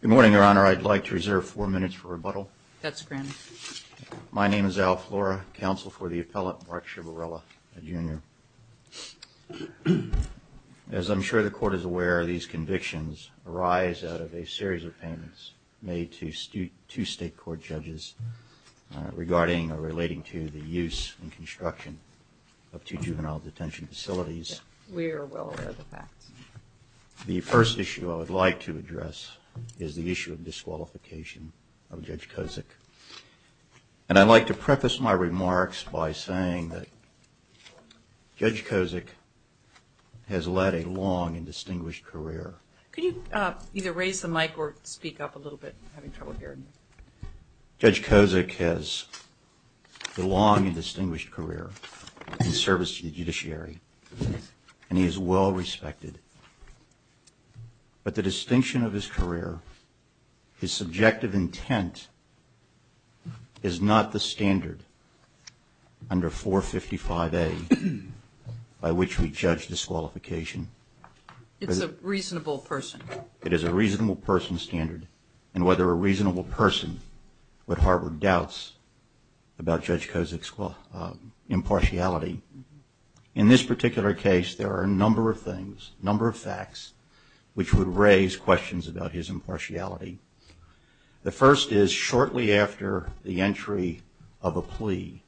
Good morning, Your Honor. I'd like to reserve four minutes for rebuttal. My name is Al Flora, counsel for the appellate Mark Ciavarella, Jr. As I'm sure the Court is aware, these convictions arise out of a series of payments made to two state court judges regarding or relating to the use and construction of two juvenile detention facilities. We are well aware of the facts. The first issue I would like to address is the issue of disqualification of Judge Kozik. And I'd like to preface my remarks by saying that Judge Kozik has led a long and distinguished career. Could you either raise the mic or speak up a little bit? Judge Kozik has a long and distinguished career in service to the judiciary, and he is well respected. But the distinction of his career, his subjective intent, is not the standard under 455A by which we judge disqualification. It's a reasonable person. It is a reasonable person standard. And whether a reasonable person would harbor doubts about Judge Kozik's impartiality. In this particular case, there are a number of things, a number of facts, which would raise questions about his impartiality. The first is shortly after the entry of a plea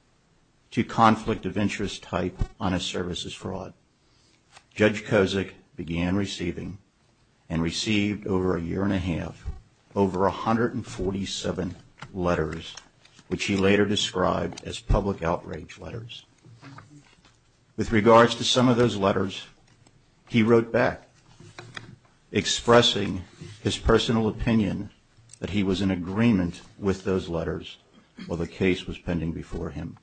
to conflict of interest type on a services fraud, Judge Kozik began receiving and received over a year and a half, over 147 letters, which he later described as public outrage letters. With regards to some of those letters, he wrote back, expressing his personal opinion that he was in agreement with those letters while the case was pending before him.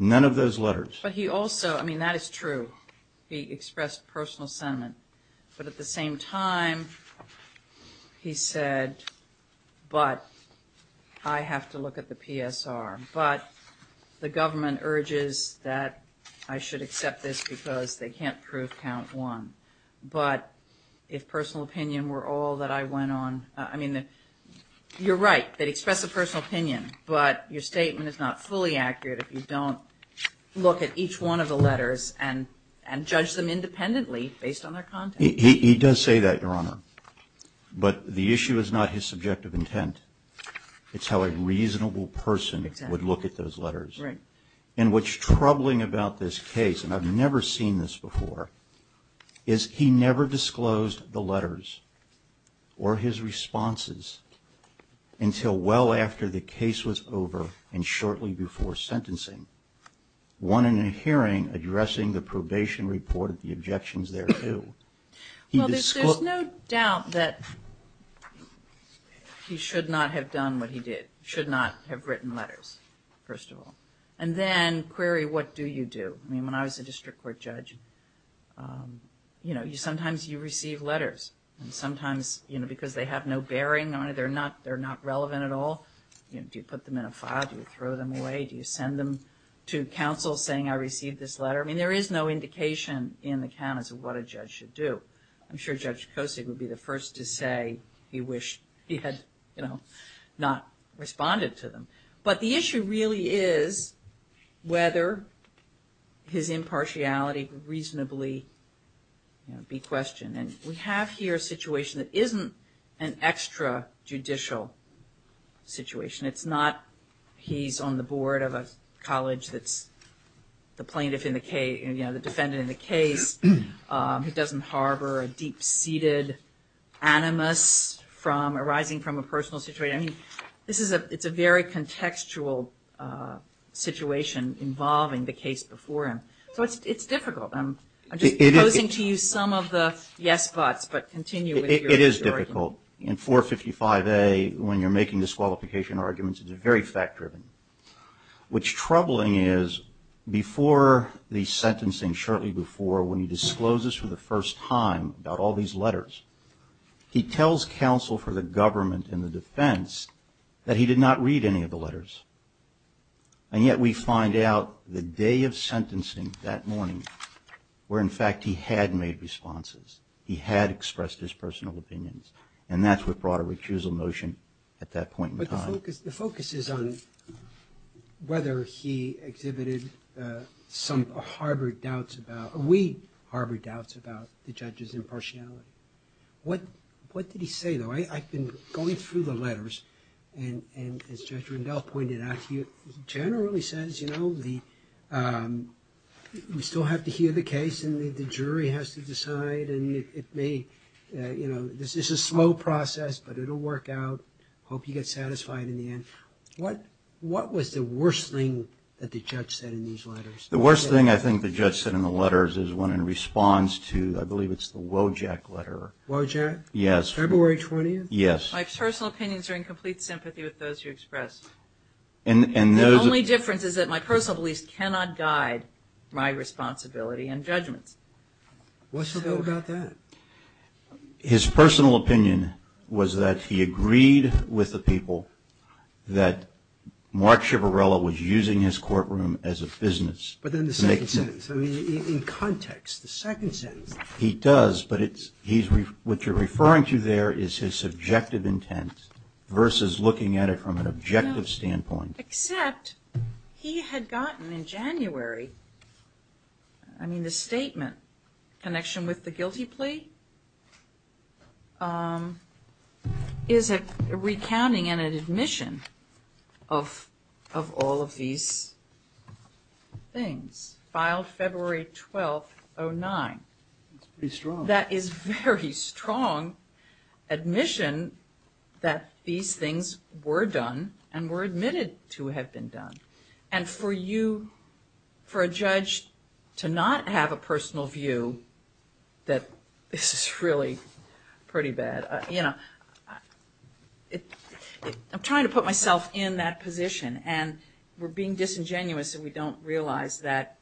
None of those letters. But he also, I mean, that is true, he expressed personal sentiment, but at the same time, he said, but I have to look at the PSR. But the government urges that I should accept this because they can't prove count one. But if personal opinion were all that I went on, I mean, you're right, they'd express a personal opinion, but your statement is not fully accurate if you don't look at each one of the letters and judge them independently based on their content. He does say that, Your Honor, but the issue is not his subjective intent. It's how a reasonable person would look at those letters. And what's troubling about this case, and I've never seen this before, is he never disclosed the letters or his responses until well after the case was over and shortly before sentencing. One in a hearing addressing the probation report, the objections there, too, he disclosed Well, there's no doubt that he should not have done what he did, should not have written letters, first of all. And then, query what do you do? I mean, when I was a district court judge, you know, sometimes you receive letters, and sometimes, you know, because they have no bearing on it, they're not relevant at all. Do you put them in a file? Do you throw them away? Do you send them to counsel saying, I received this letter? I mean, there is no indication in the count as to what a judge should do. I'm sure Judge Kosig would be the first to say he wished he had, you know, not responded to them. But the issue really is whether his impartiality would reasonably be questioned. And we have here a situation that isn't an extrajudicial situation. It's not he's on the board of a college that's the plaintiff in the case, you know, the defendant in the case, who doesn't harbor a deep-seated animus arising from a personal situation. I mean, this is a very contextual situation involving the case before him. So it's difficult. I'm just posing to you some of the yes thoughts, but continue with your argument. It is difficult. In 455A, when you're making disqualification arguments, it's very fact-driven. Which troubling is, before the sentencing, shortly before, when he discloses for the first time about all these letters, he tells counsel for the government and the defense that he did not read any of the letters. And yet we find out the day of sentencing, that morning, where in fact he had made responses. He had expressed his personal opinions. And that's what brought a recusal notion at that point in time. The focus is on whether he exhibited some, harbored doubts about, or we harbored doubts about the judge's impartiality. What did he say, though? I've been going through the letters, and as Judge Rundell pointed out to you, he generally says, you know, we still have to hear the case, and the jury has to decide, and it may, you know, this is a slow process, but it'll work out. Hope you get satisfied in the end. What was the worst thing that the judge said in these letters? The worst thing I think the judge said in the letters is when in response to, I believe it's the Wojak letter. Wojak? Yes. February 20th? Yes. My personal opinions are in complete sympathy with those you expressed. And those... The only difference is that my personal beliefs cannot guide my responsibility and judgments. What's so good about that? His personal opinion was that he agreed with the people that Mark Schivarella was using his courtroom as a business. But then the second sentence, I mean, in context, the second sentence... He does, but what you're referring to there is his subjective intent versus looking at it from an objective standpoint. Except he had gotten in January, I mean, the statement, connection with the guilty plea, is a recounting and an admission of all of these things. Filed February 12th, 09. That's pretty strong. That is very strong admission that these things were done and were admitted to have been done. And for you, for a judge to not have a personal view that this is really pretty bad, I'm trying to put myself in that position. And we're being disingenuous and we don't realize that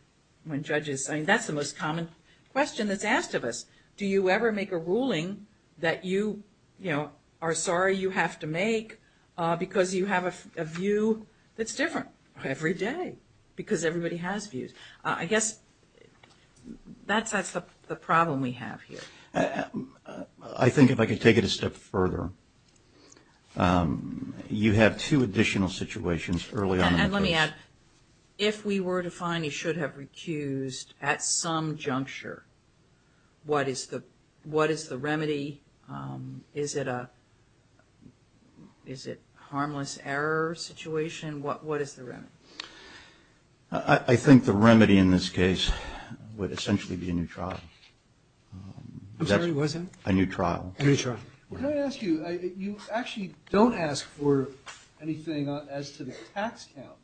when judges... I mean, that's the most common question that's asked of us. Do you ever make a ruling that you are sorry you have to make because you have a view that's different every day? Because everybody has views. I guess that's the problem we have here. I think if I could take it a step further, you have two additional situations early on... And let me add, if we were to find he should have recused at some juncture, what is the remedy? Is it a harmless error situation? What is the remedy? I think the remedy in this case would essentially be a new trial. I'm sorry, what is that? A new trial. A new trial. Well, can I ask you, you actually don't ask for anything as to the tax count.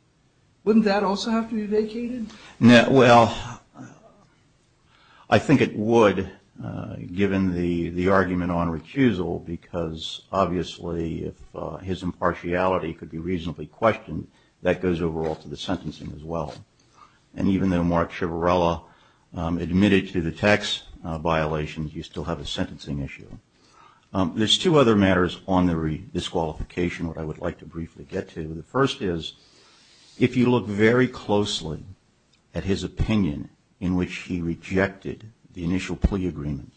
Wouldn't that also have to be vacated? Well, I think it would, given the argument on recusal, because obviously if his impartiality could be reasonably questioned, that goes overall to the sentencing as well. And even though Mark Chivarella admitted to the tax violations, you still have a sentencing issue. There's two other matters on the disqualification that I would like to briefly get to. The first is, if you look very closely at his opinion in which he rejected the initial plea agreement,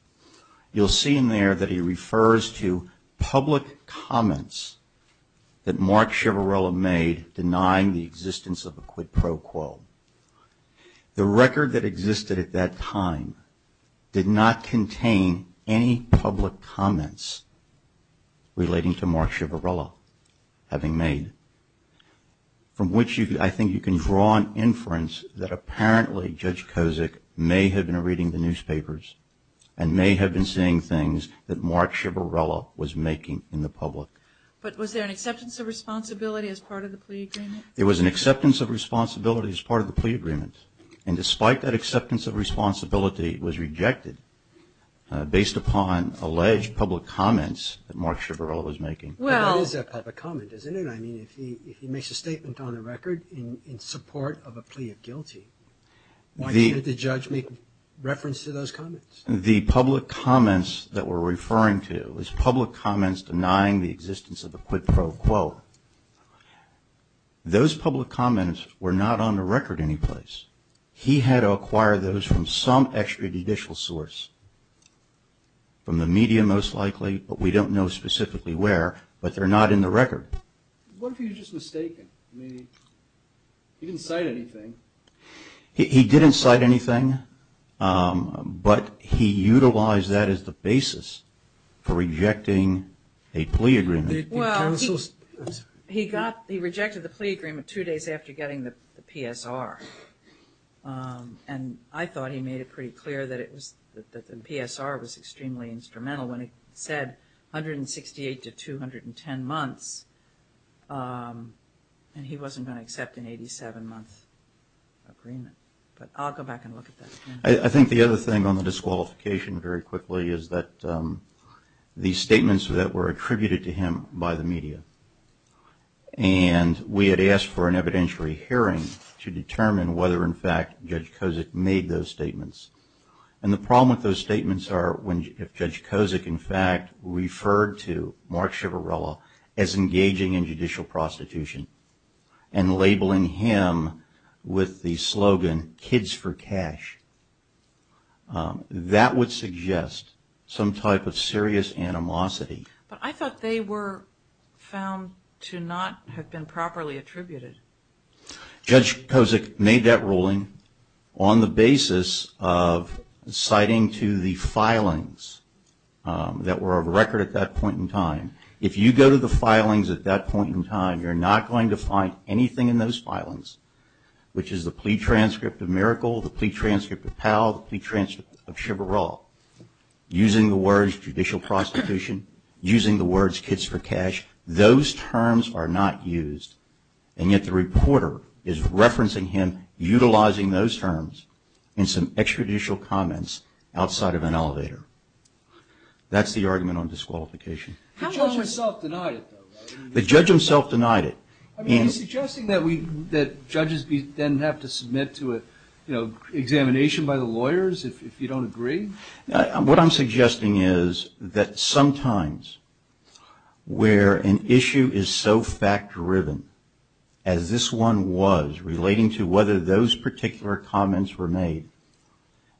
you'll see in there that he refers to public comments that Mark Chivarella made denying the existence of a quid pro quo. The record that existed at that time did not contain any public comments relating to Mark Chivarella having made, from which I think you can draw an inference that apparently Judge Kozik may have been reading the newspapers and may have been saying things that Mark Chivarella was making in the public. But was there an acceptance of responsibility as part of the plea agreement? It was an acceptance of responsibility as part of the plea agreement. And despite that acceptance of responsibility, it was rejected based upon alleged public comments that Mark Chivarella was making. Well, that is a public comment, isn't it? I mean, if he makes a statement on the record in support of a plea of guilty, why can't the judge make reference to those comments? The public comments that we're referring to is public comments denying the existence of a quid pro quo. Those public comments were not on the record anyplace. He had to acquire those from some extrajudicial source, from the media most likely, but we What if he was just mistaken? I mean, he didn't cite anything. He didn't cite anything, but he utilized that as the basis for rejecting a plea agreement. Well, he got, he rejected the plea agreement two days after getting the PSR, and I thought he made it pretty clear that it was, that the PSR was extremely instrumental when it said 168 to 210 months, and he wasn't going to accept an 87-month agreement, but I'll go back and look at that again. I think the other thing on the disqualification very quickly is that the statements that were attributed to him by the media, and we had asked for an evidentiary hearing to determine whether in fact Judge Kozik made those statements. And the problem with those statements are, if Judge Kozik in fact referred to Mark Chivarella as engaging in judicial prostitution and labeling him with the slogan, kids for cash, that would suggest some type of serious animosity. But I thought they were found to not have been properly attributed. Judge Kozik made that ruling on the basis of citing to the filings that were of record at that point in time. If you go to the filings at that point in time, you're not going to find anything in those filings, which is the plea transcript of Miracle, the plea transcript of Powell, the plea transcript of Chivarella, using the words judicial prostitution, using the words kids for cash. Those terms are not used. And yet the reporter is referencing him utilizing those terms in some extrajudicial comments outside of an elevator. That's the argument on disqualification. The judge himself denied it though, right? The judge himself denied it. I mean, are you suggesting that judges then have to submit to an examination by the lawyers if you don't agree? What I'm suggesting is that sometimes where an issue is so fact-driven, as this one was, relating to whether those particular comments were made,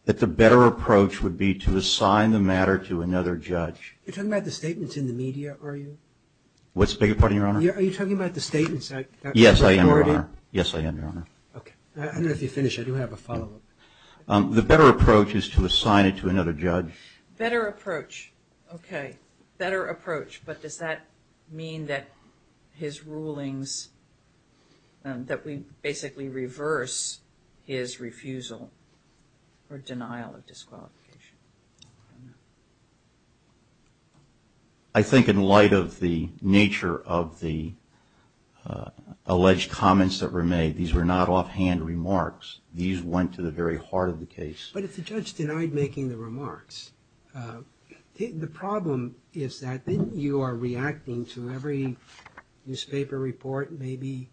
that the better approach would be to assign the matter to another judge. You're talking about the statements in the media, are you? What's the bigger part of your honor? Are you talking about the statements that were ignored in? Yes, I am, your honor. Yes, I am, your honor. Okay. I don't know if you finished. I do have a follow-up. The better approach is to assign it to another judge. Better approach. Okay. Better approach, but does that mean that his rulings, that we basically reverse his refusal or denial of disqualification? I think in light of the nature of the alleged comments that were made, these were not offhand remarks. These went to the very heart of the case. But if the judge denied making the remarks, the problem is that then you are reacting to every newspaper report, maybe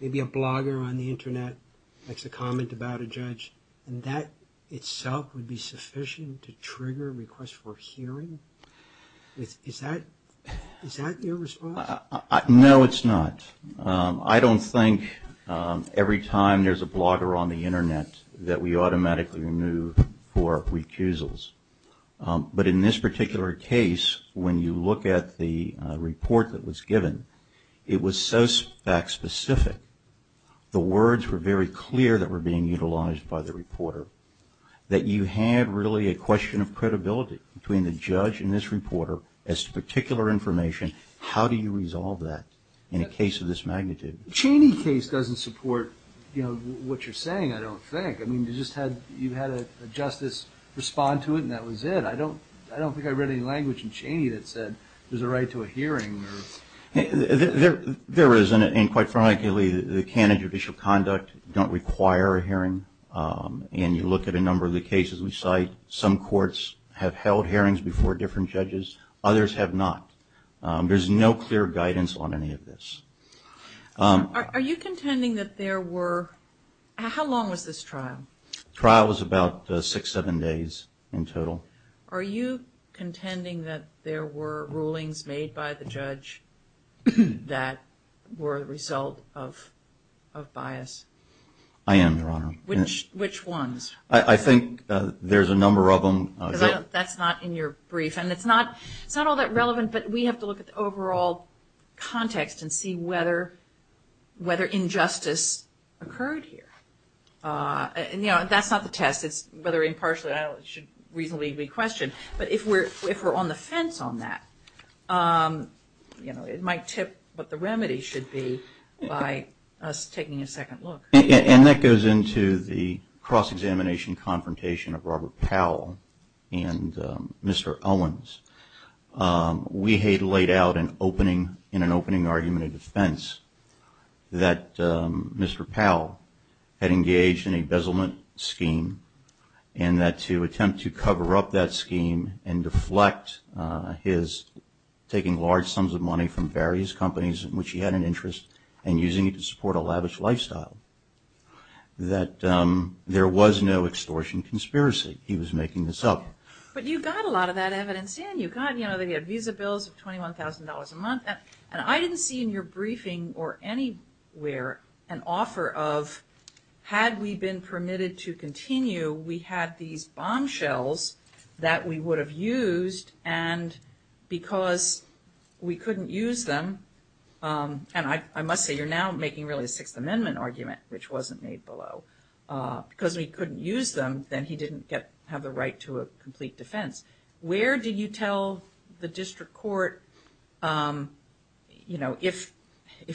a blogger on the internet makes a comment about a judge, and that itself would be sufficient to trigger a request for hearing? Is that your response? No, it's not. I don't think every time there's a blogger on the internet that we automatically remove for recusals. But in this particular case, when you look at the report that was given, it was so fact-specific, the words were very clear that were being utilized by the reporter, that you had really a question of credibility between the judge and this reporter as to particular information. How do you resolve that in a case of this magnitude? Cheney's case doesn't support what you're saying, I don't think. You had a justice respond to it, and that was it. I don't think I read any language in Cheney that said there's a right to a hearing. There is, and quite frankly, the canon of judicial conduct don't require a hearing. You look at a number of the cases we cite, some courts have held hearings before different judges, others have not. There's no clear guidance on any of this. Are you contending that there were, how long was this trial? Trial was about six, seven days in total. Are you contending that there were rulings made by the judge that were a result of bias? I am, Your Honor. Which ones? I think there's a number of them. That's not in your brief, and it's not all that relevant, but we have to look at the overall context and see whether injustice occurred here. That's not the test. It's whether impartiality should reasonably be questioned. But if we're on the fence on that, it might tip what the remedy should be by us taking a second look. And that goes into the cross-examination confrontation of Robert Powell and Mr. Owens. We had laid out in an opening argument of defense that Mr. Powell had engaged in a bezelment scheme and that to attempt to cover up that scheme and deflect his taking large sums of money from various companies in which he had an interest and using it to support a lavish lifestyle, that there was no extortion conspiracy. He was making this up. Okay. But you got a lot of that evidence in. You got, you know, they had visa bills of $21,000 a month, and I didn't see in your briefing or anywhere an offer of, had we been permitted to continue, we had these bombshells that we would have used, and because we couldn't use them, and I must say you're now making really a Sixth Amendment argument, which wasn't made below. Because we couldn't use them, then he didn't have the right to a complete defense. Where do you tell the district court, you know, if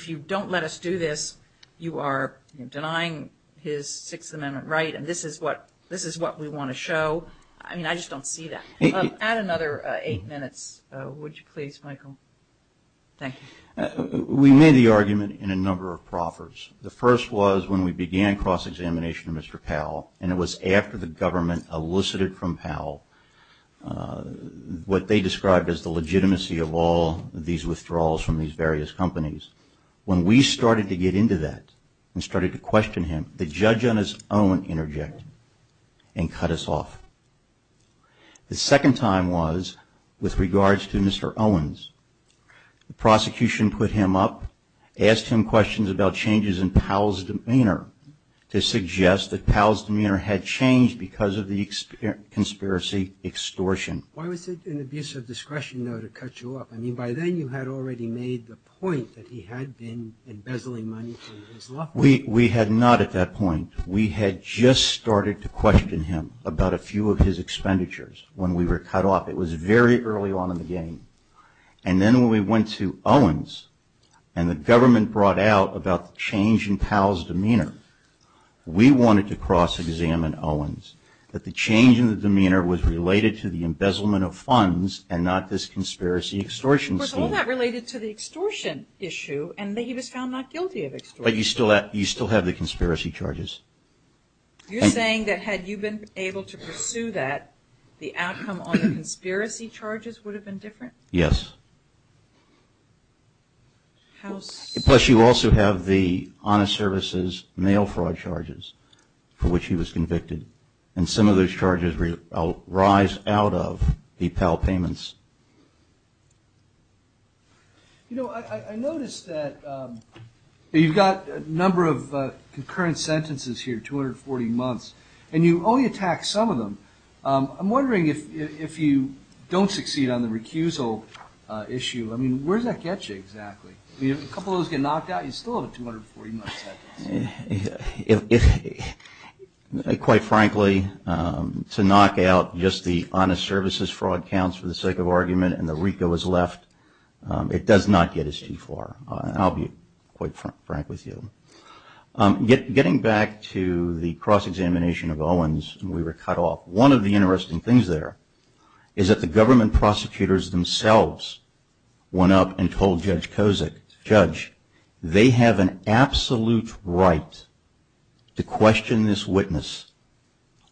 you don't let us do this, you are denying his Sixth Amendment right, and this is what we want to show? I mean, I just don't see that. Add another eight minutes, would you please, Michael? Thank you. We made the argument in a number of proffers. The first was when we began cross-examination of Mr. Powell, and it was after the government elicited from Powell what they described as the legitimacy of all these withdrawals from these various companies. When we started to get into that, and started to question him, the judge on his own interjected and cut us off. The second time was with regards to Mr. Owens. The prosecution put him up, asked him questions about changes in Powell's demeanor to suggest that Powell's demeanor had changed because of the conspiracy extortion. Why was it an abuse of discretion, though, to cut you off? I mean, by then you had already made the point that he had been embezzling money from his law firm. We had not at that point. We had just started to question him about a few of his expenditures when we were cut off. It was very early on in the game. And then when we went to Owens and the government brought out about the change in Powell's demeanor, we wanted to cross-examine Owens, that the change in the demeanor was related to the embezzlement of funds and not this conspiracy extortion scheme. Of course, all that related to the extortion issue, and that he was found not guilty of extortion. But you still have the conspiracy charges. You're saying that had you been able to pursue that, the outcome on the conspiracy charges would have been different? Yes. Plus, you also have the honest services mail fraud charges for which he was convicted. And some of those charges rise out of the Powell payments. You know, I noticed that you've got a number of concurrent sentences here, 240 months, and you only attack some of them. I'm wondering if you don't succeed on the recusal issue, I mean, where does that get you exactly? I mean, a couple of those get knocked out, you still have a 240-month sentence. Quite frankly, to knock out just the honest services fraud counts for the sake of argument and the recall is left, it does not get us too far, I'll be quite frank with you. Getting back to the cross-examination of Owens, we were cut off. One of the interesting things there is that the government prosecutors themselves went up and told Judge Kozak, Judge, they have an absolute right to question this witness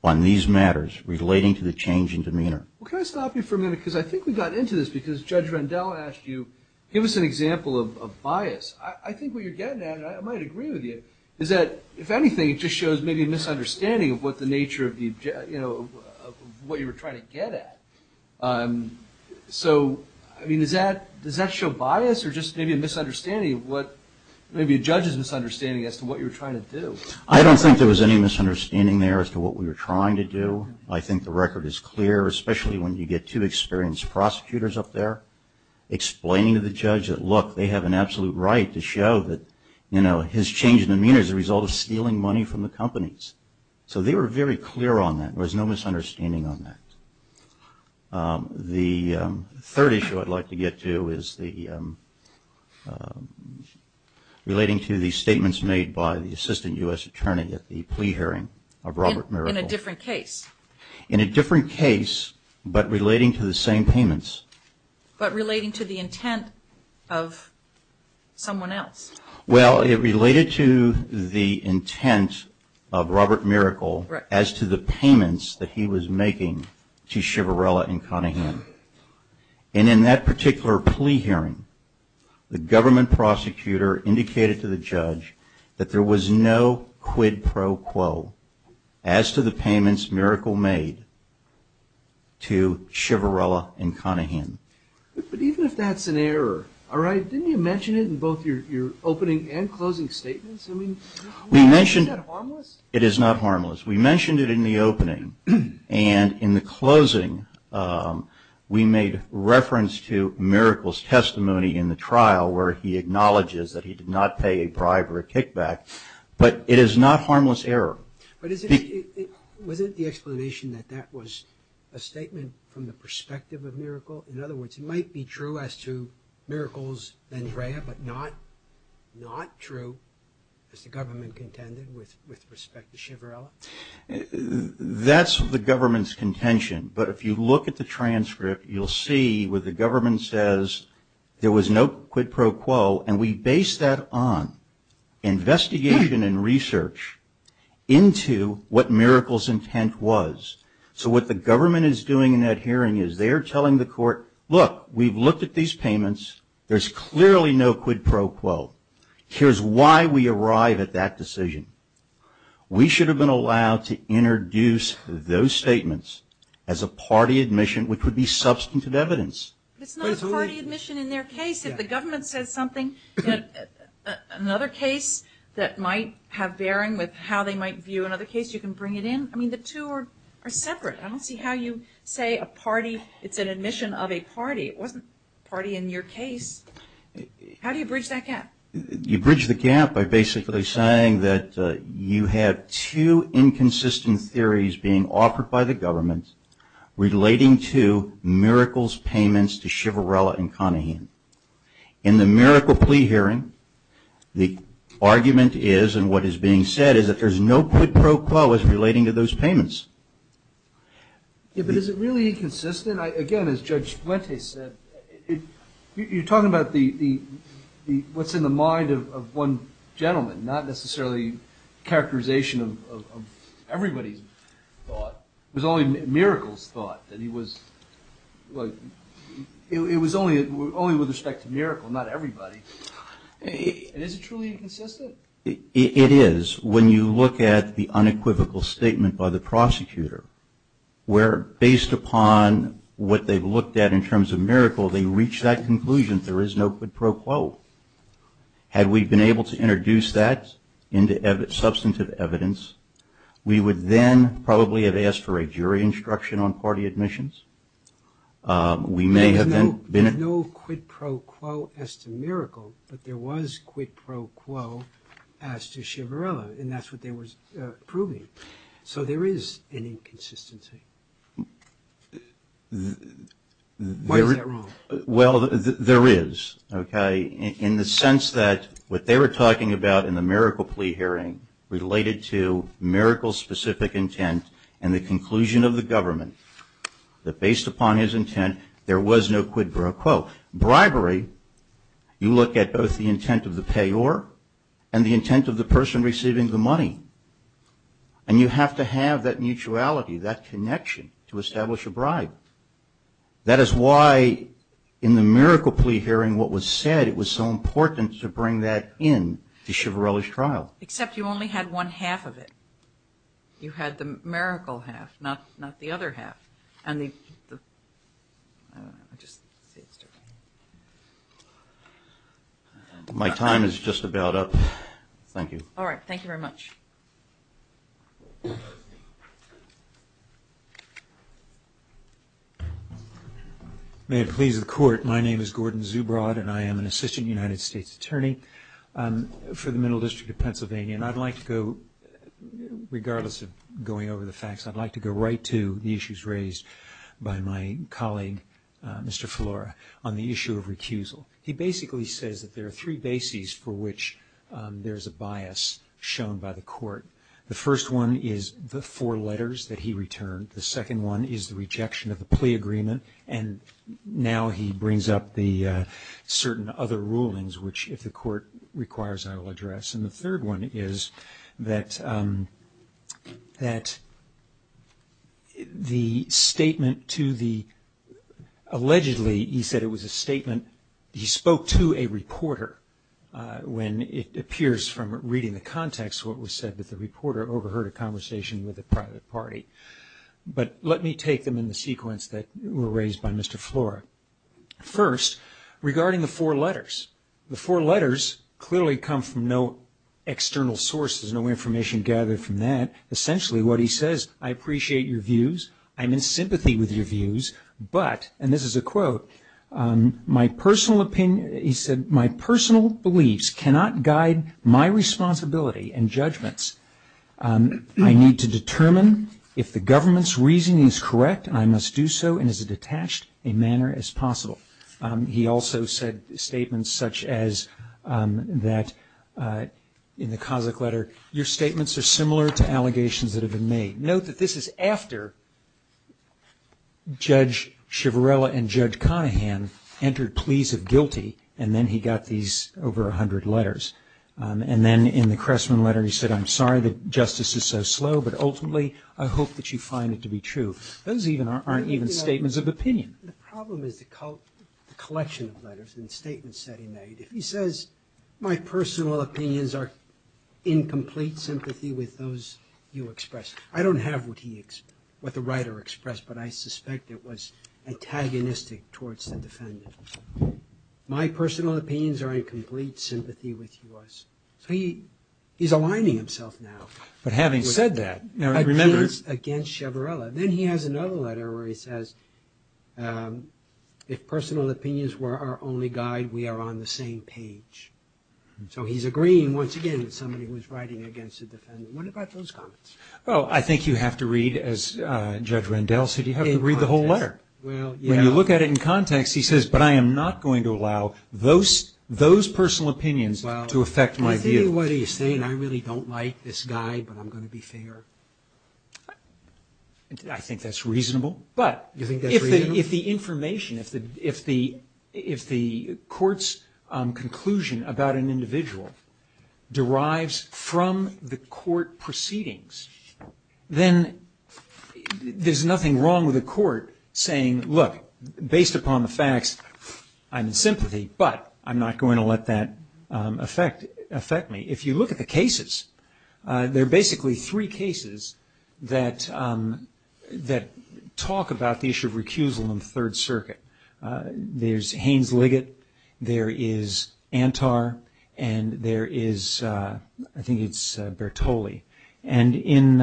on these matters relating to the change in demeanor. Well, can I stop you for a minute, because I think we got into this, because Judge Rendell asked you, give us an example of bias. I think what you're getting at, and I might agree with you, is that, if anything, it just shows maybe a misunderstanding of what the nature of what you were trying to get at. So, I mean, does that show bias or just maybe a misunderstanding of what, maybe a judge's misunderstanding as to what you were trying to do? I don't think there was any misunderstanding there as to what we were trying to do. I think the record is clear, especially when you get two experienced prosecutors up there explaining to the judge that, look, they have an absolute right to show that, you know, his change in demeanor is a result of stealing money from the companies. So they were very clear on that. There was no misunderstanding on that. The third issue I'd like to get to is the, relating to the statements made by the assistant U.S. attorney at the plea hearing of Robert Mirabal. In a different case. In a different case, but relating to the same payments. But relating to the intent of someone else. Well, it related to the intent of Robert Mirabal as to the payments that he was making to Chivrella and Conahan. And in that particular plea hearing, the government prosecutor indicated to the judge that there was no quid pro quo as to the payments Mirabal made to Chivrella and Conahan. But even if that's an error, all right? But didn't you mention it in both your opening and closing statements? I mean, isn't that harmless? It is not harmless. We mentioned it in the opening. And in the closing, we made reference to Mirabal's testimony in the trial where he acknowledges that he did not pay a bribe or a kickback. But it is not harmless error. But was it the explanation that that was a statement from the perspective of Mirabal? In other words, it might be true as to Mirabal's vendrea, but not true as the government contended with respect to Chivrella? That's the government's contention. But if you look at the transcript, you'll see where the government says there was no quid pro quo. And we based that on investigation and research into what Mirabal's intent was. So what the government is doing in that hearing is they're telling the court, look, we've looked at these payments. There's clearly no quid pro quo. Here's why we arrive at that decision. We should have been allowed to introduce those statements as a party admission, which would be substantive evidence. It's not a party admission in their case. If the government says something, another case that might have bearing with how they might view another case, you can bring it in. I mean, the two are separate. I don't see how you say a party, it's an admission of a party. It wasn't a party in your case. How do you bridge that gap? You bridge the gap by basically saying that you have two inconsistent theories being offered by the government relating to Mirabal's payments to Chivrella and Conahin. In the Mirabal plea hearing, the argument is, and what is being said, is that there's no quid pro quo as relating to those payments. But is it really inconsistent? Again, as Judge Fuentes said, you're talking about what's in the mind of one gentleman, not necessarily characterization of everybody's thought. It was only Miracle's thought. It was only with respect to Miracle, not everybody. And is it truly inconsistent? It is. When you look at the unequivocal statement by the prosecutor where, based upon what they've looked at in terms of Miracle, they reach that conclusion, there is no quid pro quo. Had we been able to introduce that into substantive evidence, we would then probably have asked for a jury instruction on party admissions. There's no quid pro quo as to Miracle, but there was quid pro quo as to Chivrella, and that's what they were proving. So there is an inconsistency. Why is that wrong? Well, there is, okay, in the sense that what they were talking about in the Miracle plea hearing related to Miracle's specific intent and the conclusion of the government, that based upon his intent, there was no quid pro quo. Bribery, you look at both the intent of the payor and the intent of the person receiving the money, and you have to have that mutuality, that connection to establish a bribe. That is why in the Miracle plea hearing what was said, it was so important to bring that in to Chivrella's trial. Except you only had one half of it. You had the Miracle half, not the other half. My time is just about up. Thank you. All right. Thank you very much. May it please the Court, my name is Gordon Zubrod, and I am an Assistant United States Attorney for the Middle District of Pennsylvania, and I'd like to go, regardless of going over the facts, I'd like to go right to the issues raised by my colleague, Mr. Filora, on the issue of recusal. He basically says that there are three bases for which there is a bias shown by the Court. The first one is the four letters that he returned. The second one is the rejection of the plea agreement, and now he brings up the certain other rulings which, if the Court requires, I will address. And the third one is that the statement to the – allegedly he said it was a statement – he spoke to a reporter when it appears from reading the context what was said, that the reporter overheard a conversation with a private party. But let me take them in the sequence that were raised by Mr. Filora. First, regarding the four letters. The four letters clearly come from no external sources, no information gathered from that. Essentially what he says, I appreciate your views, I'm in sympathy with your views, but – and this is a quote – my personal opinion – he said, my personal beliefs cannot guide my responsibility and judgments. I need to determine if the government's reasoning is correct, and I must do so in as detached a manner as possible. He also said statements such as that in the Kazakh letter, your statements are similar to allegations that have been made. Note that this is after Judge Shvarela and Judge Conahan entered pleas of guilty, and then he got these over 100 letters. And then in the Cressman letter he said, I'm sorry that justice is so slow, but ultimately I hope that you find it to be true. Those aren't even statements of opinion. The problem is the collection of letters and statements that he made. If he says, my personal opinions are in complete sympathy with those you express, I don't have what he – what the writer expressed, but I suspect it was antagonistic towards the defendant. My personal opinions are in complete sympathy with yours. So he's aligning himself now. But having said that – Opinions against Shvarela. Then he has another letter where he says, if personal opinions were our only guide, we are on the same page. So he's agreeing, once again, with somebody who's writing against the defendant. What about those comments? Oh, I think you have to read, as Judge Rendell said, you have to read the whole letter. When you look at it in context, he says, but I am not going to allow those personal opinions to affect my view. Well, I think what he's saying, I really don't like this guy, but I'm going to be fair. I think that's reasonable. You think that's reasonable? But if the information, if the court's conclusion about an individual derives from the court proceedings, then there's nothing wrong with the court saying, look, based upon the facts, I'm in sympathy, but I'm not going to let that affect me. If you look at the cases, there are basically three cases that talk about the issue of recusal in the Third Circuit. There's Haynes-Liggett, there is Antar, and there is, I think it's Bertoli. In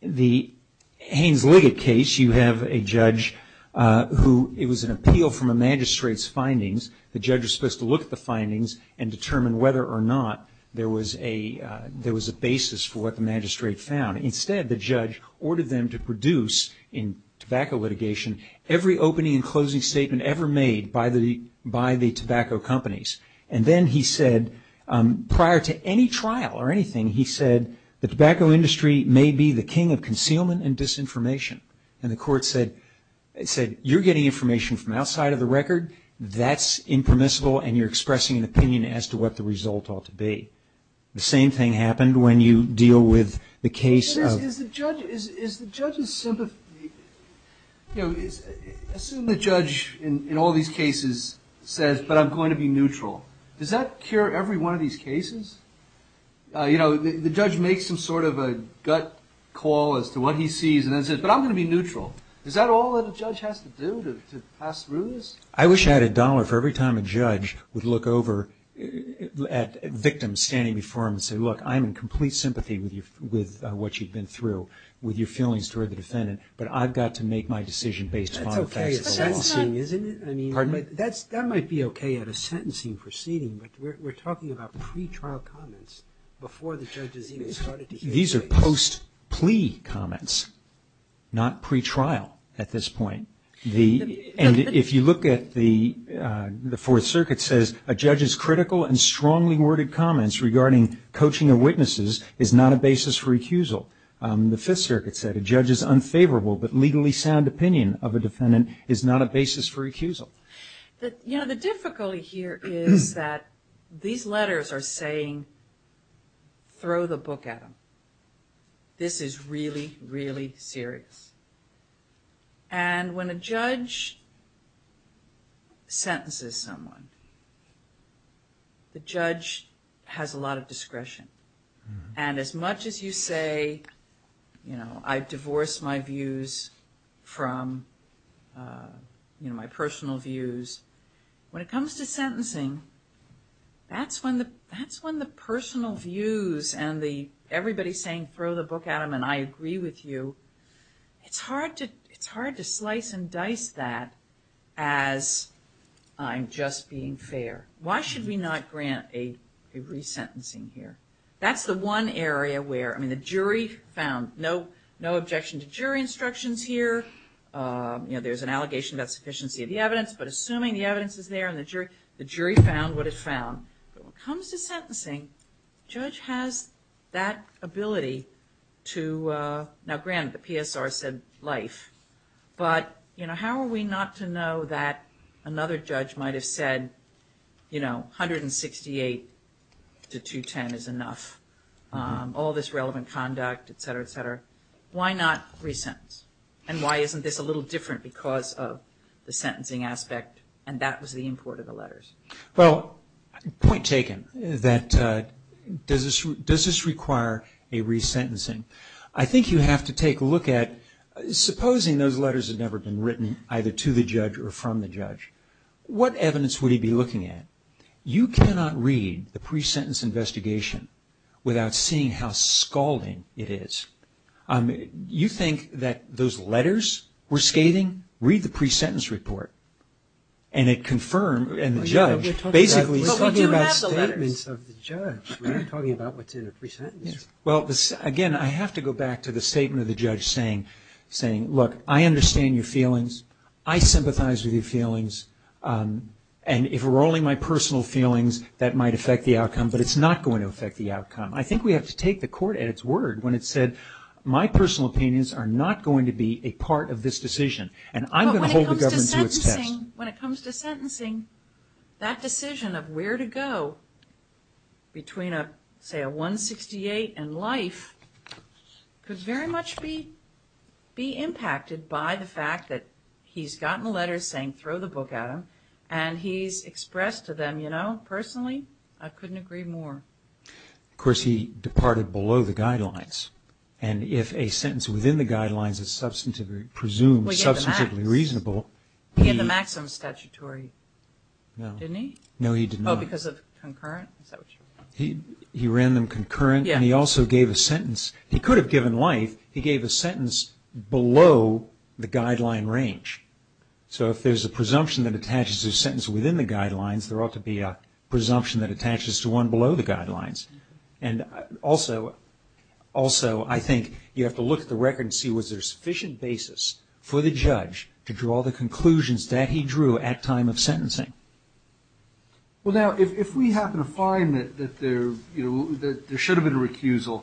the Haynes-Liggett case, you have a judge who, it was an appeal from a magistrate's findings. The judge was supposed to look at the findings and determine whether or not there was a basis for what the magistrate found. Instead, the judge ordered them to produce in tobacco litigation every opening and closing statement ever made by the tobacco companies. And then he said, prior to any trial or anything, he said, the tobacco industry may be the king of concealment and disinformation. And the court said, you're getting information from outside of the record, that's impermissible, and you're expressing an opinion as to what the result ought to be. The same thing happened when you deal with the case of- But is the judge's sympathy, you know, assume the judge in all these cases says, but I'm going to be neutral. Does that cure every one of these cases? You know, the judge makes some sort of a gut call as to what he sees and then says, but I'm going to be neutral. Is that all that a judge has to do to pass through this? I wish I had a dollar for every time a judge would look over at victims standing before him and say, look, I'm in complete sympathy with what you've been through, with your feelings toward the defendant, but I've got to make my decision based on the facts of the law. That's okay at sentencing, isn't it? Pardon me? That might be okay at a sentencing proceeding, but we're talking about pretrial comments before the judge has even started to hear the case. These are post-plea comments, not pretrial at this point. And if you look at the Fourth Circuit says, a judge's critical and strongly worded comments regarding coaching of witnesses is not a basis for recusal. The Fifth Circuit said, a judge's unfavorable but legally sound opinion of a defendant is not a basis for recusal. You know, the difficulty here is that these letters are saying, throw the book at them. This is really, really serious. And when a judge sentences someone, the judge has a lot of discretion. And as much as you say, you know, I divorce my views from, you know, my personal views, when it comes to sentencing, that's when the personal views and the, I agree with you, it's hard to slice and dice that as I'm just being fair. Why should we not grant a resentencing here? That's the one area where, I mean, the jury found no objection to jury instructions here. You know, there's an allegation about sufficiency of the evidence, but assuming the evidence is there and the jury found what it found. But when it comes to sentencing, the judge has that ability to, now granted the PSR said life, but, you know, how are we not to know that another judge might have said, you know, 168 to 210 is enough. All this relevant conduct, et cetera, et cetera. Why not resentence? And why isn't this a little different because of the sentencing aspect and that was the import of the letters? Well, point taken, that does this require a resentencing? I think you have to take a look at, supposing those letters had never been written either to the judge or from the judge, what evidence would he be looking at? You cannot read the pre-sentence investigation without seeing how scalding it is. You think that those letters were scathing? You can read the pre-sentence report and it confirmed, and the judge basically is talking about statements of the judge. We're not talking about what's in a pre-sentence. Well, again, I have to go back to the statement of the judge saying, look, I understand your feelings, I sympathize with your feelings, and if it were only my personal feelings that might affect the outcome, but it's not going to affect the outcome. I think we have to take the court at its word when it said, my personal opinions are not going to be a part of this decision, and I'm going to hold the government to its test. But when it comes to sentencing, that decision of where to go between, say, a 168 and life, could very much be impacted by the fact that he's gotten a letter saying, throw the book at him, and he's expressed to them, you know, personally, I couldn't agree more. Of course, he departed below the guidelines, and if a sentence within the guidelines is presumed substantively reasonable. He had the maximum statutory, didn't he? No, he did not. Oh, because of concurrent? He ran them concurrent, and he also gave a sentence. He could have given life. He gave a sentence below the guideline range. So if there's a presumption that attaches to a sentence within the guidelines, there ought to be a presumption that attaches to one below the guidelines. And also, I think you have to look at the record and see was there sufficient basis for the judge to draw the conclusions that he drew at time of sentencing. Well, now, if we happen to find that there should have been a recusal,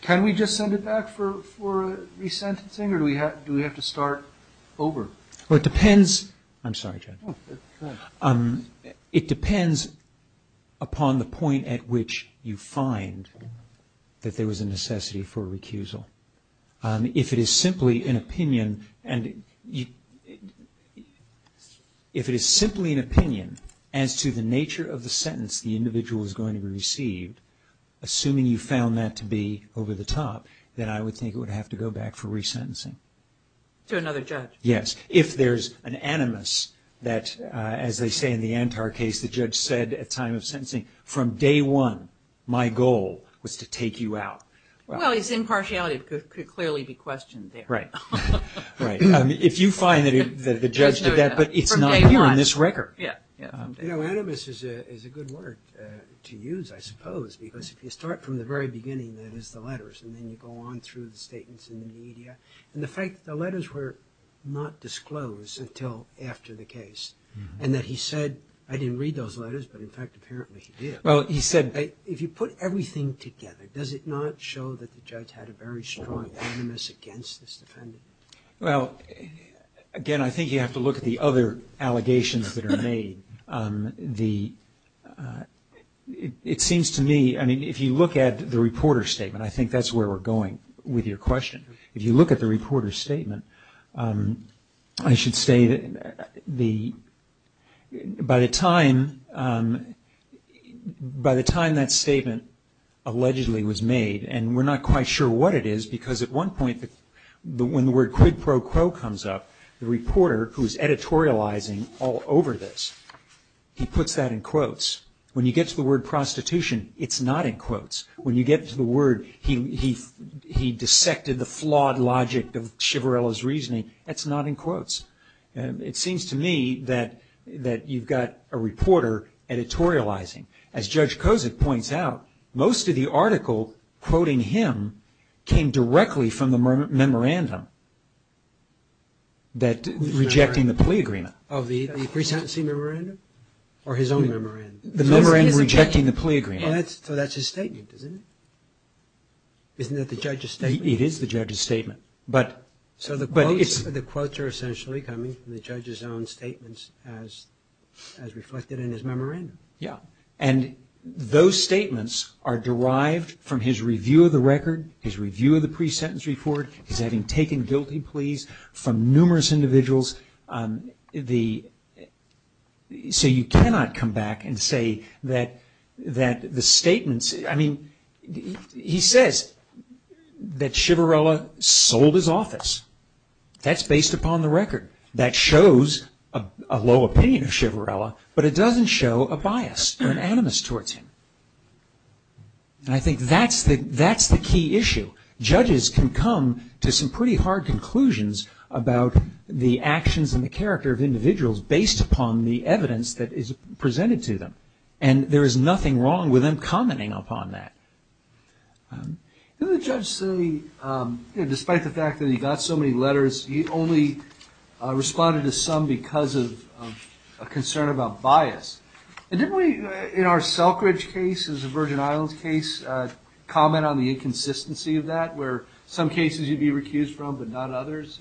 can we just send it back for resentencing, or do we have to start over? Well, it depends. I'm sorry, Judge. It depends upon the point at which you find that there was a necessity for a recusal. If it is simply an opinion as to the nature of the sentence the individual is going to be received, assuming you found that to be over the top, then I would think it would have to go back for resentencing. To another judge? Yes. If there's an animus that, as they say in the Antar case, the judge said at time of sentencing, from day one, my goal was to take you out. Well, his impartiality could clearly be questioned there. Right. If you find that the judge did that, but it's not here in this record. You know, animus is a good word to use, I suppose, because if you start from the very beginning, that is the letters, and then you go on through the statements in the media, and the fact that the letters were not disclosed until after the case, and that he said, I didn't read those letters, but in fact apparently he did. Well, he said. If you put everything together, does it not show that the judge had a very strong animus against this defendant? Well, again, I think you have to look at the other allegations that are made. It seems to me, I mean, if you look at the reporter's statement, I think that's where we're going with your question. If you look at the reporter's statement, I should say that by the time that statement allegedly was made, and we're not quite sure what it is, because at one point when the word quid pro quo comes up, the reporter, who is editorializing all over this, he puts that in quotes. When you get to the word prostitution, it's not in quotes. When you get to the word he dissected the flawed logic of Chivarella's reasoning, that's not in quotes. It seems to me that you've got a reporter editorializing. As Judge Kozik points out, most of the article quoting him came directly from the memorandum rejecting the plea agreement. Of the presidency memorandum? Or his own memorandum? The memorandum rejecting the plea agreement. So that's his statement, isn't it? Isn't that the judge's statement? It is the judge's statement. So the quotes are essentially coming from the judge's own statements as reflected in his memorandum. Yeah. And those statements are derived from his review of the record, his review of the pre-sentence report, his having taken guilty pleas from numerous individuals. So you cannot come back and say that the statements... I mean, he says that Chivarella sold his office. That's based upon the record. That shows a low opinion of Chivarella, but it doesn't show a bias or an animus towards him. And I think that's the key issue. Judges can come to some pretty hard conclusions about the actions and the character of individuals based upon the evidence that is presented to them. And there is nothing wrong with them commenting upon that. Didn't the judge say, despite the fact that he got so many letters, he only responded to some because of a concern about bias? And didn't we, in our Selkridge case, as a Virgin Islands case, comment on the inconsistency of that, where some cases you'd be recused from but not others?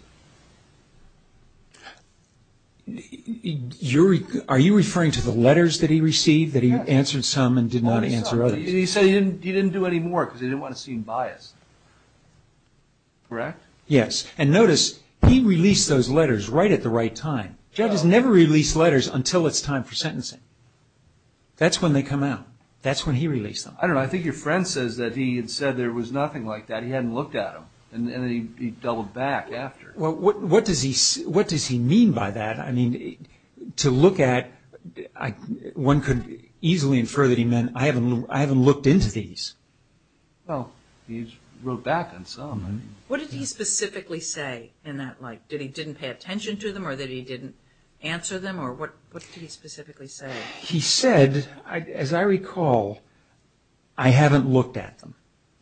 Are you referring to the letters that he received that he answered some and did not answer others? He said he didn't do any more because he didn't want to seem biased. Correct? Yes. And notice, he released those letters right at the right time. Judges never release letters until it's time for sentencing. That's when they come out. That's when he released them. I don't know. I think your friend says that he had said there was nothing like that. He hadn't looked at them, and then he doubled back after. Well, what does he mean by that? I mean, to look at, one could easily infer that he meant, I haven't looked into these. Well, he wrote back on some. What did he specifically say in that, like, did he didn't pay attention to them or that he didn't answer them, or what did he specifically say? He said, as I recall, I haven't looked at them.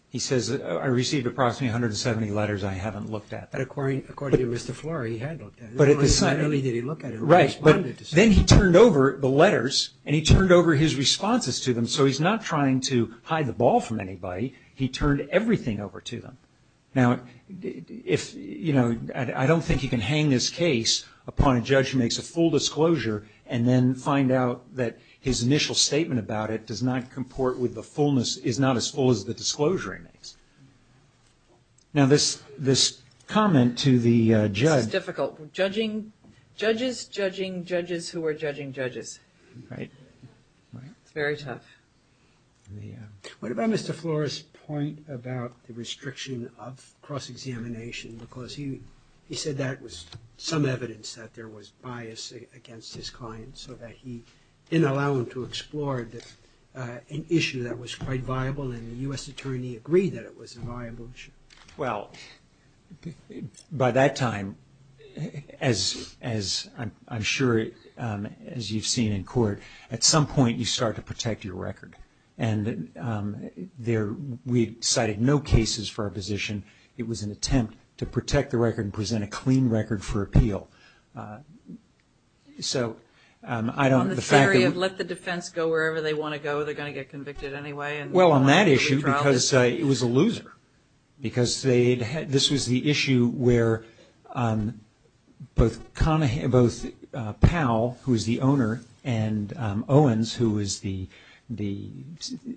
He says, I received approximately 170 letters, I haven't looked at them. According to Mr. Flory, he had looked at them. Not only did he look at them, he responded to them. Right, but then he turned over the letters and he turned over his responses to them, so he's not trying to hide the ball from anybody. He turned everything over to them. Now, if, you know, I don't think you can hang this case upon a judge who makes a full disclosure and then find out that his initial statement about it does not comport with the fullness, is not as full as the disclosure he makes. Now, this comment to the judge. This is difficult. Judges judging judges who are judging judges. Right. It's very tough. What about Mr. Flory's point about the restriction of cross-examination? Because he said that was some evidence that there was bias against his client, so that he didn't allow him to explore an issue that was quite viable, and the U.S. Attorney agreed that it was a viable issue. Well, by that time, as I'm sure as you've seen in court, at some point you start to protect your record. And we cited no cases for our position. It was an attempt to protect the record and present a clean record for appeal. On the theory of let the defense go wherever they want to go, they're going to get convicted anyway. Well, on that issue, because it was a loser. Because this was the issue where both Powell, who was the owner, and Owens, who was the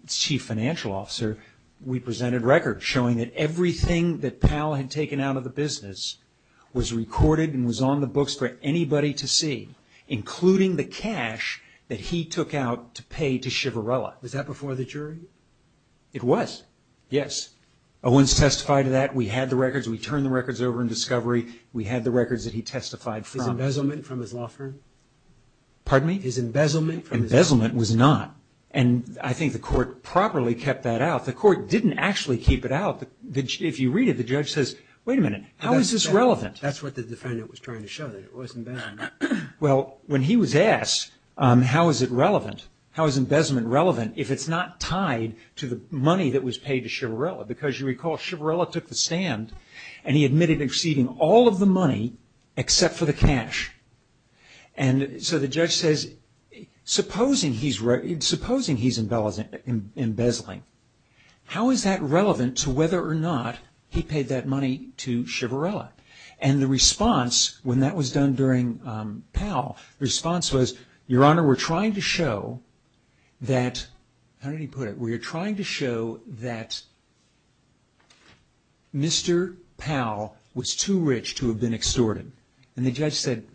chief financial officer, we presented records showing that everything that Powell had taken out of the business was recorded and was on the books for anybody to see, including the cash that he took out to pay to Shivarella. Was that before the jury? It was, yes. Owens testified to that. We had the records. We turned the records over in discovery. We had the records that he testified from. His embezzlement from his law firm? Pardon me? His embezzlement from his law firm? Embezzlement was not, and I think the court properly kept that out. The court didn't actually keep it out. If you read it, the judge says, wait a minute, how is this relevant? That's what the defendant was trying to show, that it wasn't bad. Well, when he was asked how is it relevant, how is embezzlement relevant, if it's not tied to the money that was paid to Shivarella? Because you recall, Shivarella took the stand, and he admitted exceeding all of the money except for the cash. So the judge says, supposing he's embezzling, how is that relevant to whether or not he paid that money to Shivarella? And the response, when that was done during Powell, the response was, Your Honor, we're trying to show that, how did he put it? We're trying to show that Mr. Powell was too rich to have been extorted. And the judge said,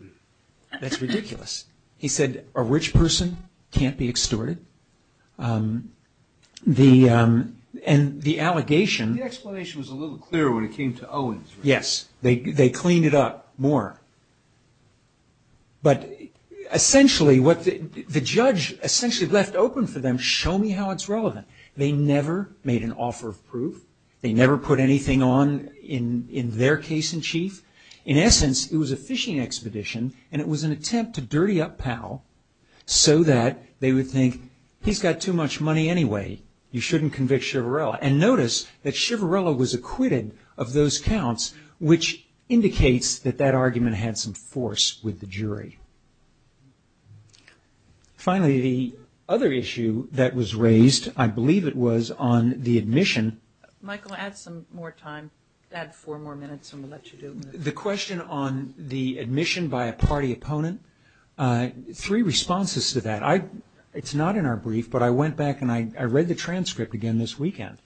that's ridiculous. He said, a rich person can't be extorted. And the allegation... The explanation was a little clearer when it came to Owens, right? Yes, they cleaned it up more. But essentially, what the judge essentially left open for them, show me how it's relevant. They never made an offer of proof. They never put anything on in their case in chief. In essence, it was a fishing expedition, and it was an attempt to dirty up Powell so that they would think, he's got too much money anyway. You shouldn't convict Shivarella. And notice that Shivarella was acquitted of those counts, which indicates that that argument had some force with the jury. Finally, the other issue that was raised, I believe it was, on the admission. Michael, add some more time. Add four more minutes, and we'll let you do it. The question on the admission by a party opponent, three responses to that. It's not in our brief, but I went back and I read the transcript again this weekend.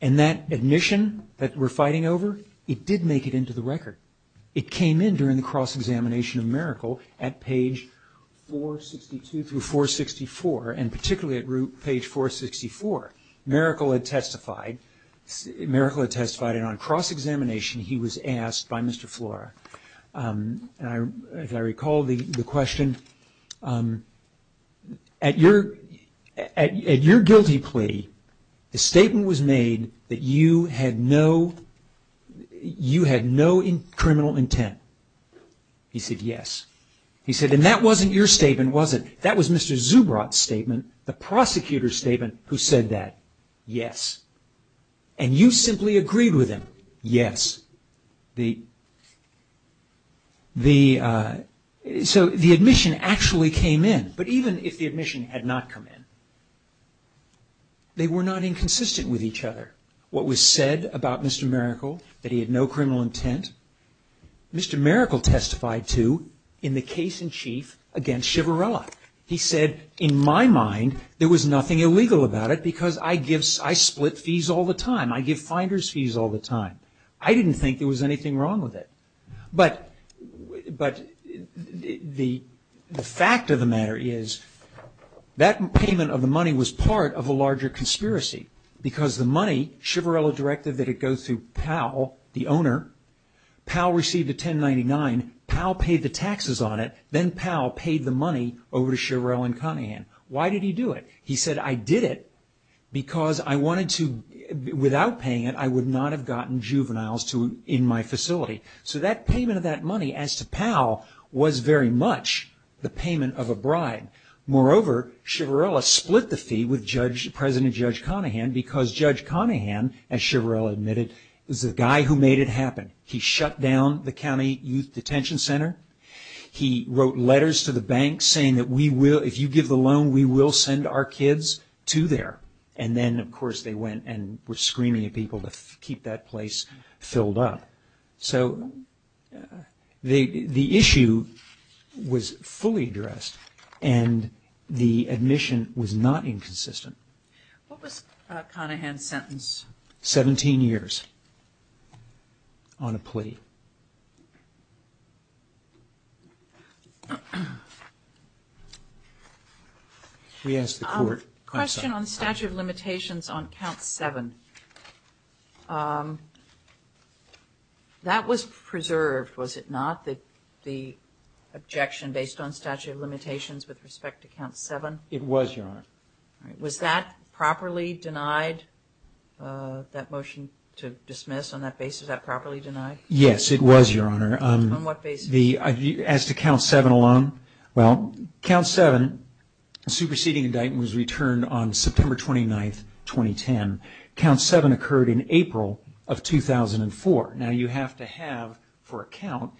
And that admission that we're fighting over, it did make it into the record. It came in during the cross-examination of Mericle at page 462 through 464, and particularly at page 464. Mericle had testified, and on cross-examination he was asked by Mr. Flora, and as I recall the question, at your guilty plea the statement was made that you had no criminal intent. He said, yes. He said, and that wasn't your statement, was it? That was Mr. Zubrot's statement, the prosecutor's statement, who said that, yes. And you simply agreed with him, yes. So the admission actually came in. But even if the admission had not come in, they were not inconsistent with each other. What was said about Mr. Mericle, that he had no criminal intent, Mr. Mericle testified to in the case in chief against Shiverella. He said, in my mind, there was nothing illegal about it because I split fees all the time. I give finder's fees all the time. I didn't think there was anything wrong with it. But the fact of the matter is that payment of the money was part of a larger conspiracy because the money, Shiverella directed that it go through Powell, the owner. Powell received a 1099. Powell paid the taxes on it. Then Powell paid the money over to Shiverella and Cunningham. Why did he do it? He said, I did it because I wanted to, without paying it, I would not have gotten juveniles in my facility. So that payment of that money, as to Powell, was very much the payment of a bride. Moreover, Shiverella split the fee with President Judge Cunningham because Judge Cunningham, as Shiverella admitted, was the guy who made it happen. He shut down the county youth detention center. He wrote letters to the bank saying that we will, if you give the loan, we will send our kids to there. And then, of course, they went and were screaming at people to keep that place filled up. So the issue was fully addressed, and the admission was not inconsistent. What was Cunningham's sentence? 17 years on a plea. We asked the court. Question on statute of limitations on Count 7. That was preserved, was it not, the objection based on statute of limitations with respect to Count 7? It was, Your Honor. Was that properly denied, that motion to dismiss, on that basis, was that properly denied? Yes, it was, Your Honor. On what basis? As to Count 7 alone, well, Count 7, superseding indictment, was returned on September 29, 2010. Count 7 occurred in April of 2004. Now, you have to have, for a count,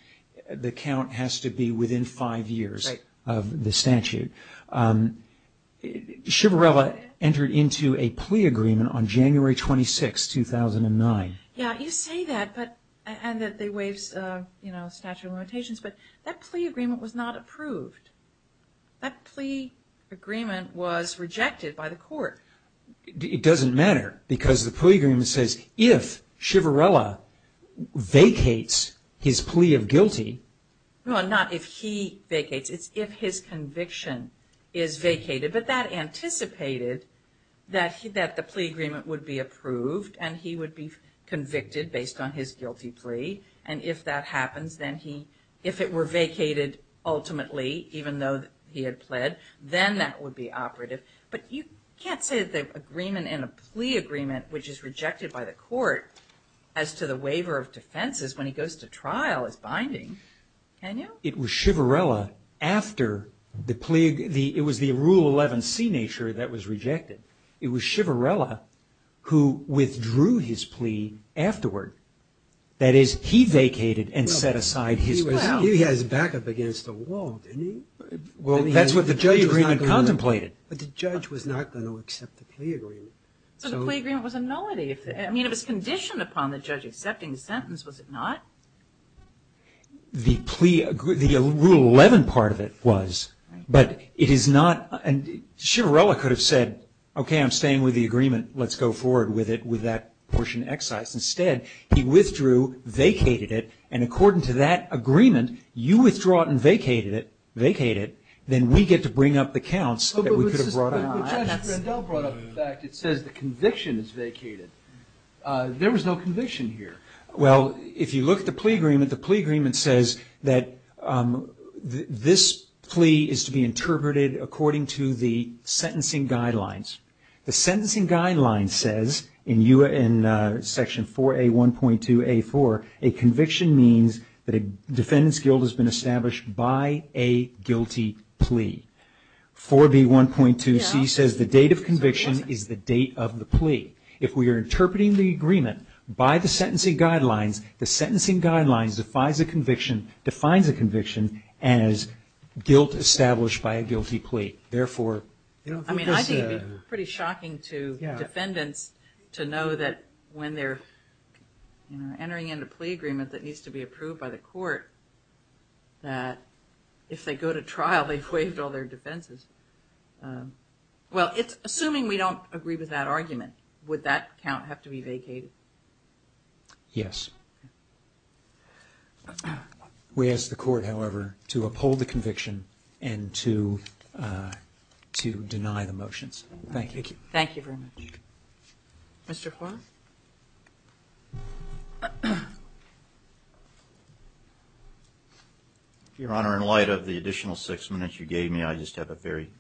the count has to be within five years of the statute. Shivarella entered into a plea agreement on January 26, 2009. Yeah, you say that, and that they waived statute of limitations, but that plea agreement was not approved. That plea agreement was rejected by the court. It doesn't matter, because the plea agreement says if Shivarella vacates his plea of guilty... No, not if he vacates, it's if his conviction is vacated. But that anticipated that the plea agreement would be approved, and he would be convicted based on his guilty plea. And if that happens, then he, if it were vacated ultimately, even though he had pled, then that would be operative. But you can't say that the agreement in a plea agreement, which is rejected by the court, as to the waiver of defenses when he goes to trial is binding, can you? It was Shivarella after the plea, it was the Rule 11C nature that was rejected. It was Shivarella who withdrew his plea afterward. That is, he vacated and set aside his... He had his back up against the wall, didn't he? Well, that's what the plea agreement contemplated. But the judge was not going to accept the plea agreement. So the plea agreement was a nullity. I mean, it was conditioned upon the judge accepting the sentence, was it not? The plea, the Rule 11 part of it was. But it is not, and Shivarella could have said, okay, I'm staying with the agreement. Let's go forward with it, with that portion excised. Instead, he withdrew, vacated it, and according to that agreement, you withdraw it and vacated it, then we get to bring up the counts that we could have brought up. But Judge Rendell brought up the fact, it says the conviction is vacated. There was no conviction here. Well, if you look at the plea agreement, the plea agreement says that this plea is to be interpreted according to the sentencing guidelines. The sentencing guidelines says in Section 4A.1.2.A.4, a conviction means that a defendant's guilt has been established by a guilty plea. 4B.1.2.C says the date of conviction is the date of the plea. If we are interpreting the agreement by the sentencing guidelines, the sentencing guidelines defines a conviction as guilt established by a guilty plea. I think it would be pretty shocking to defendants to know that when they're entering in a plea agreement that needs to be approved by the court, that if they go to trial, they've waived all their defenses. Well, assuming we don't agree with that argument, would that count have to be vacated? Yes. We ask the court, however, to uphold the conviction and to deny the motions. Thank you. Thank you very much. Mr. Horne. Your Honor, in light of the additional six minutes you gave me, I just have a very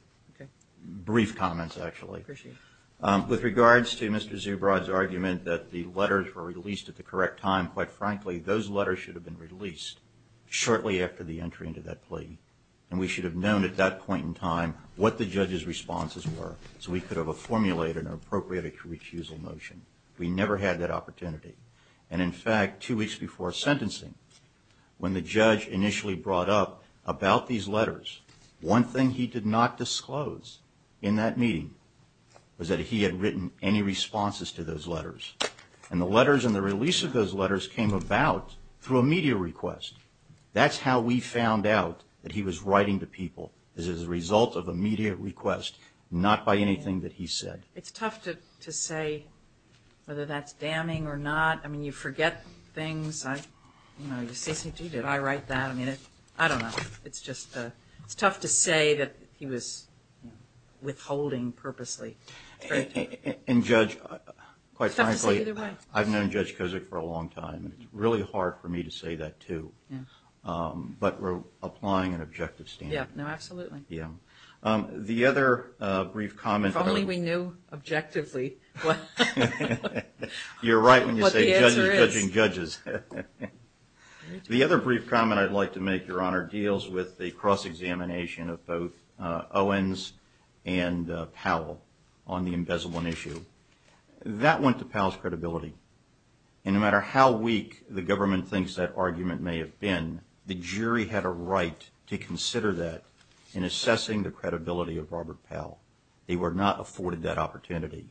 brief comment, actually. I appreciate it. With regards to Mr. Zubrod's argument that the letters were released at the correct time, quite frankly, those letters should have been released shortly after the entry into that plea, and we should have known at that point in time what the judge's We never had that opportunity. And in fact, two weeks before sentencing, when the judge initially brought up about these letters, one thing he did not disclose in that meeting was that he had written any responses to those letters. And the letters and the release of those letters came about through a media request. That's how we found out that he was writing to people, is as a result of a media request, not by anything that he said. It's tough to say whether that's damning or not. I mean, you forget things. You say, gee, did I write that? I mean, I don't know. It's just tough to say that he was withholding purposely. And Judge, quite frankly, I've known Judge Kozak for a long time, and it's really hard for me to say that, too. But we're applying an objective standard. Yeah. No, absolutely. Yeah. If only we knew objectively what the answer is. You're right when you say judges judging judges. The other brief comment I'd like to make, Your Honor, deals with the cross-examination of both Owens and Powell on the embezzlement issue. That went to Powell's credibility. And no matter how weak the government thinks that argument may have been, the jury had a right to consider that in assessing the credibility of Robert Powell. They were not afforded that opportunity.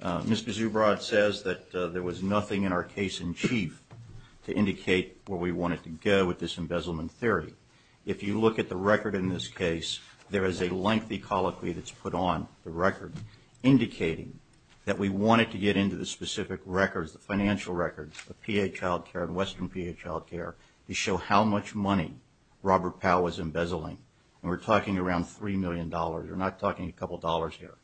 Mr. Zubrod says that there was nothing in our case in chief to indicate where we wanted to go with this embezzlement theory. If you look at the record in this case, there is a lengthy colloquy that's put on the record indicating that we wanted to get into the specific records, the financial records of Western PA Child Care, to show how much money Robert Powell was embezzling. And we're talking around $3 million. We're not talking a couple dollars here.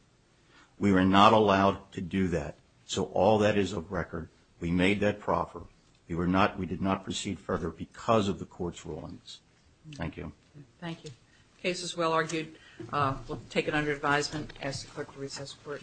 We were not allowed to do that. So all that is of record. We made that proffer. We did not proceed further because of the court's rulings. Thank you. Thank you. The case is well argued. We'll take it under advisement. Ask the clerk to recess for it. Thank you.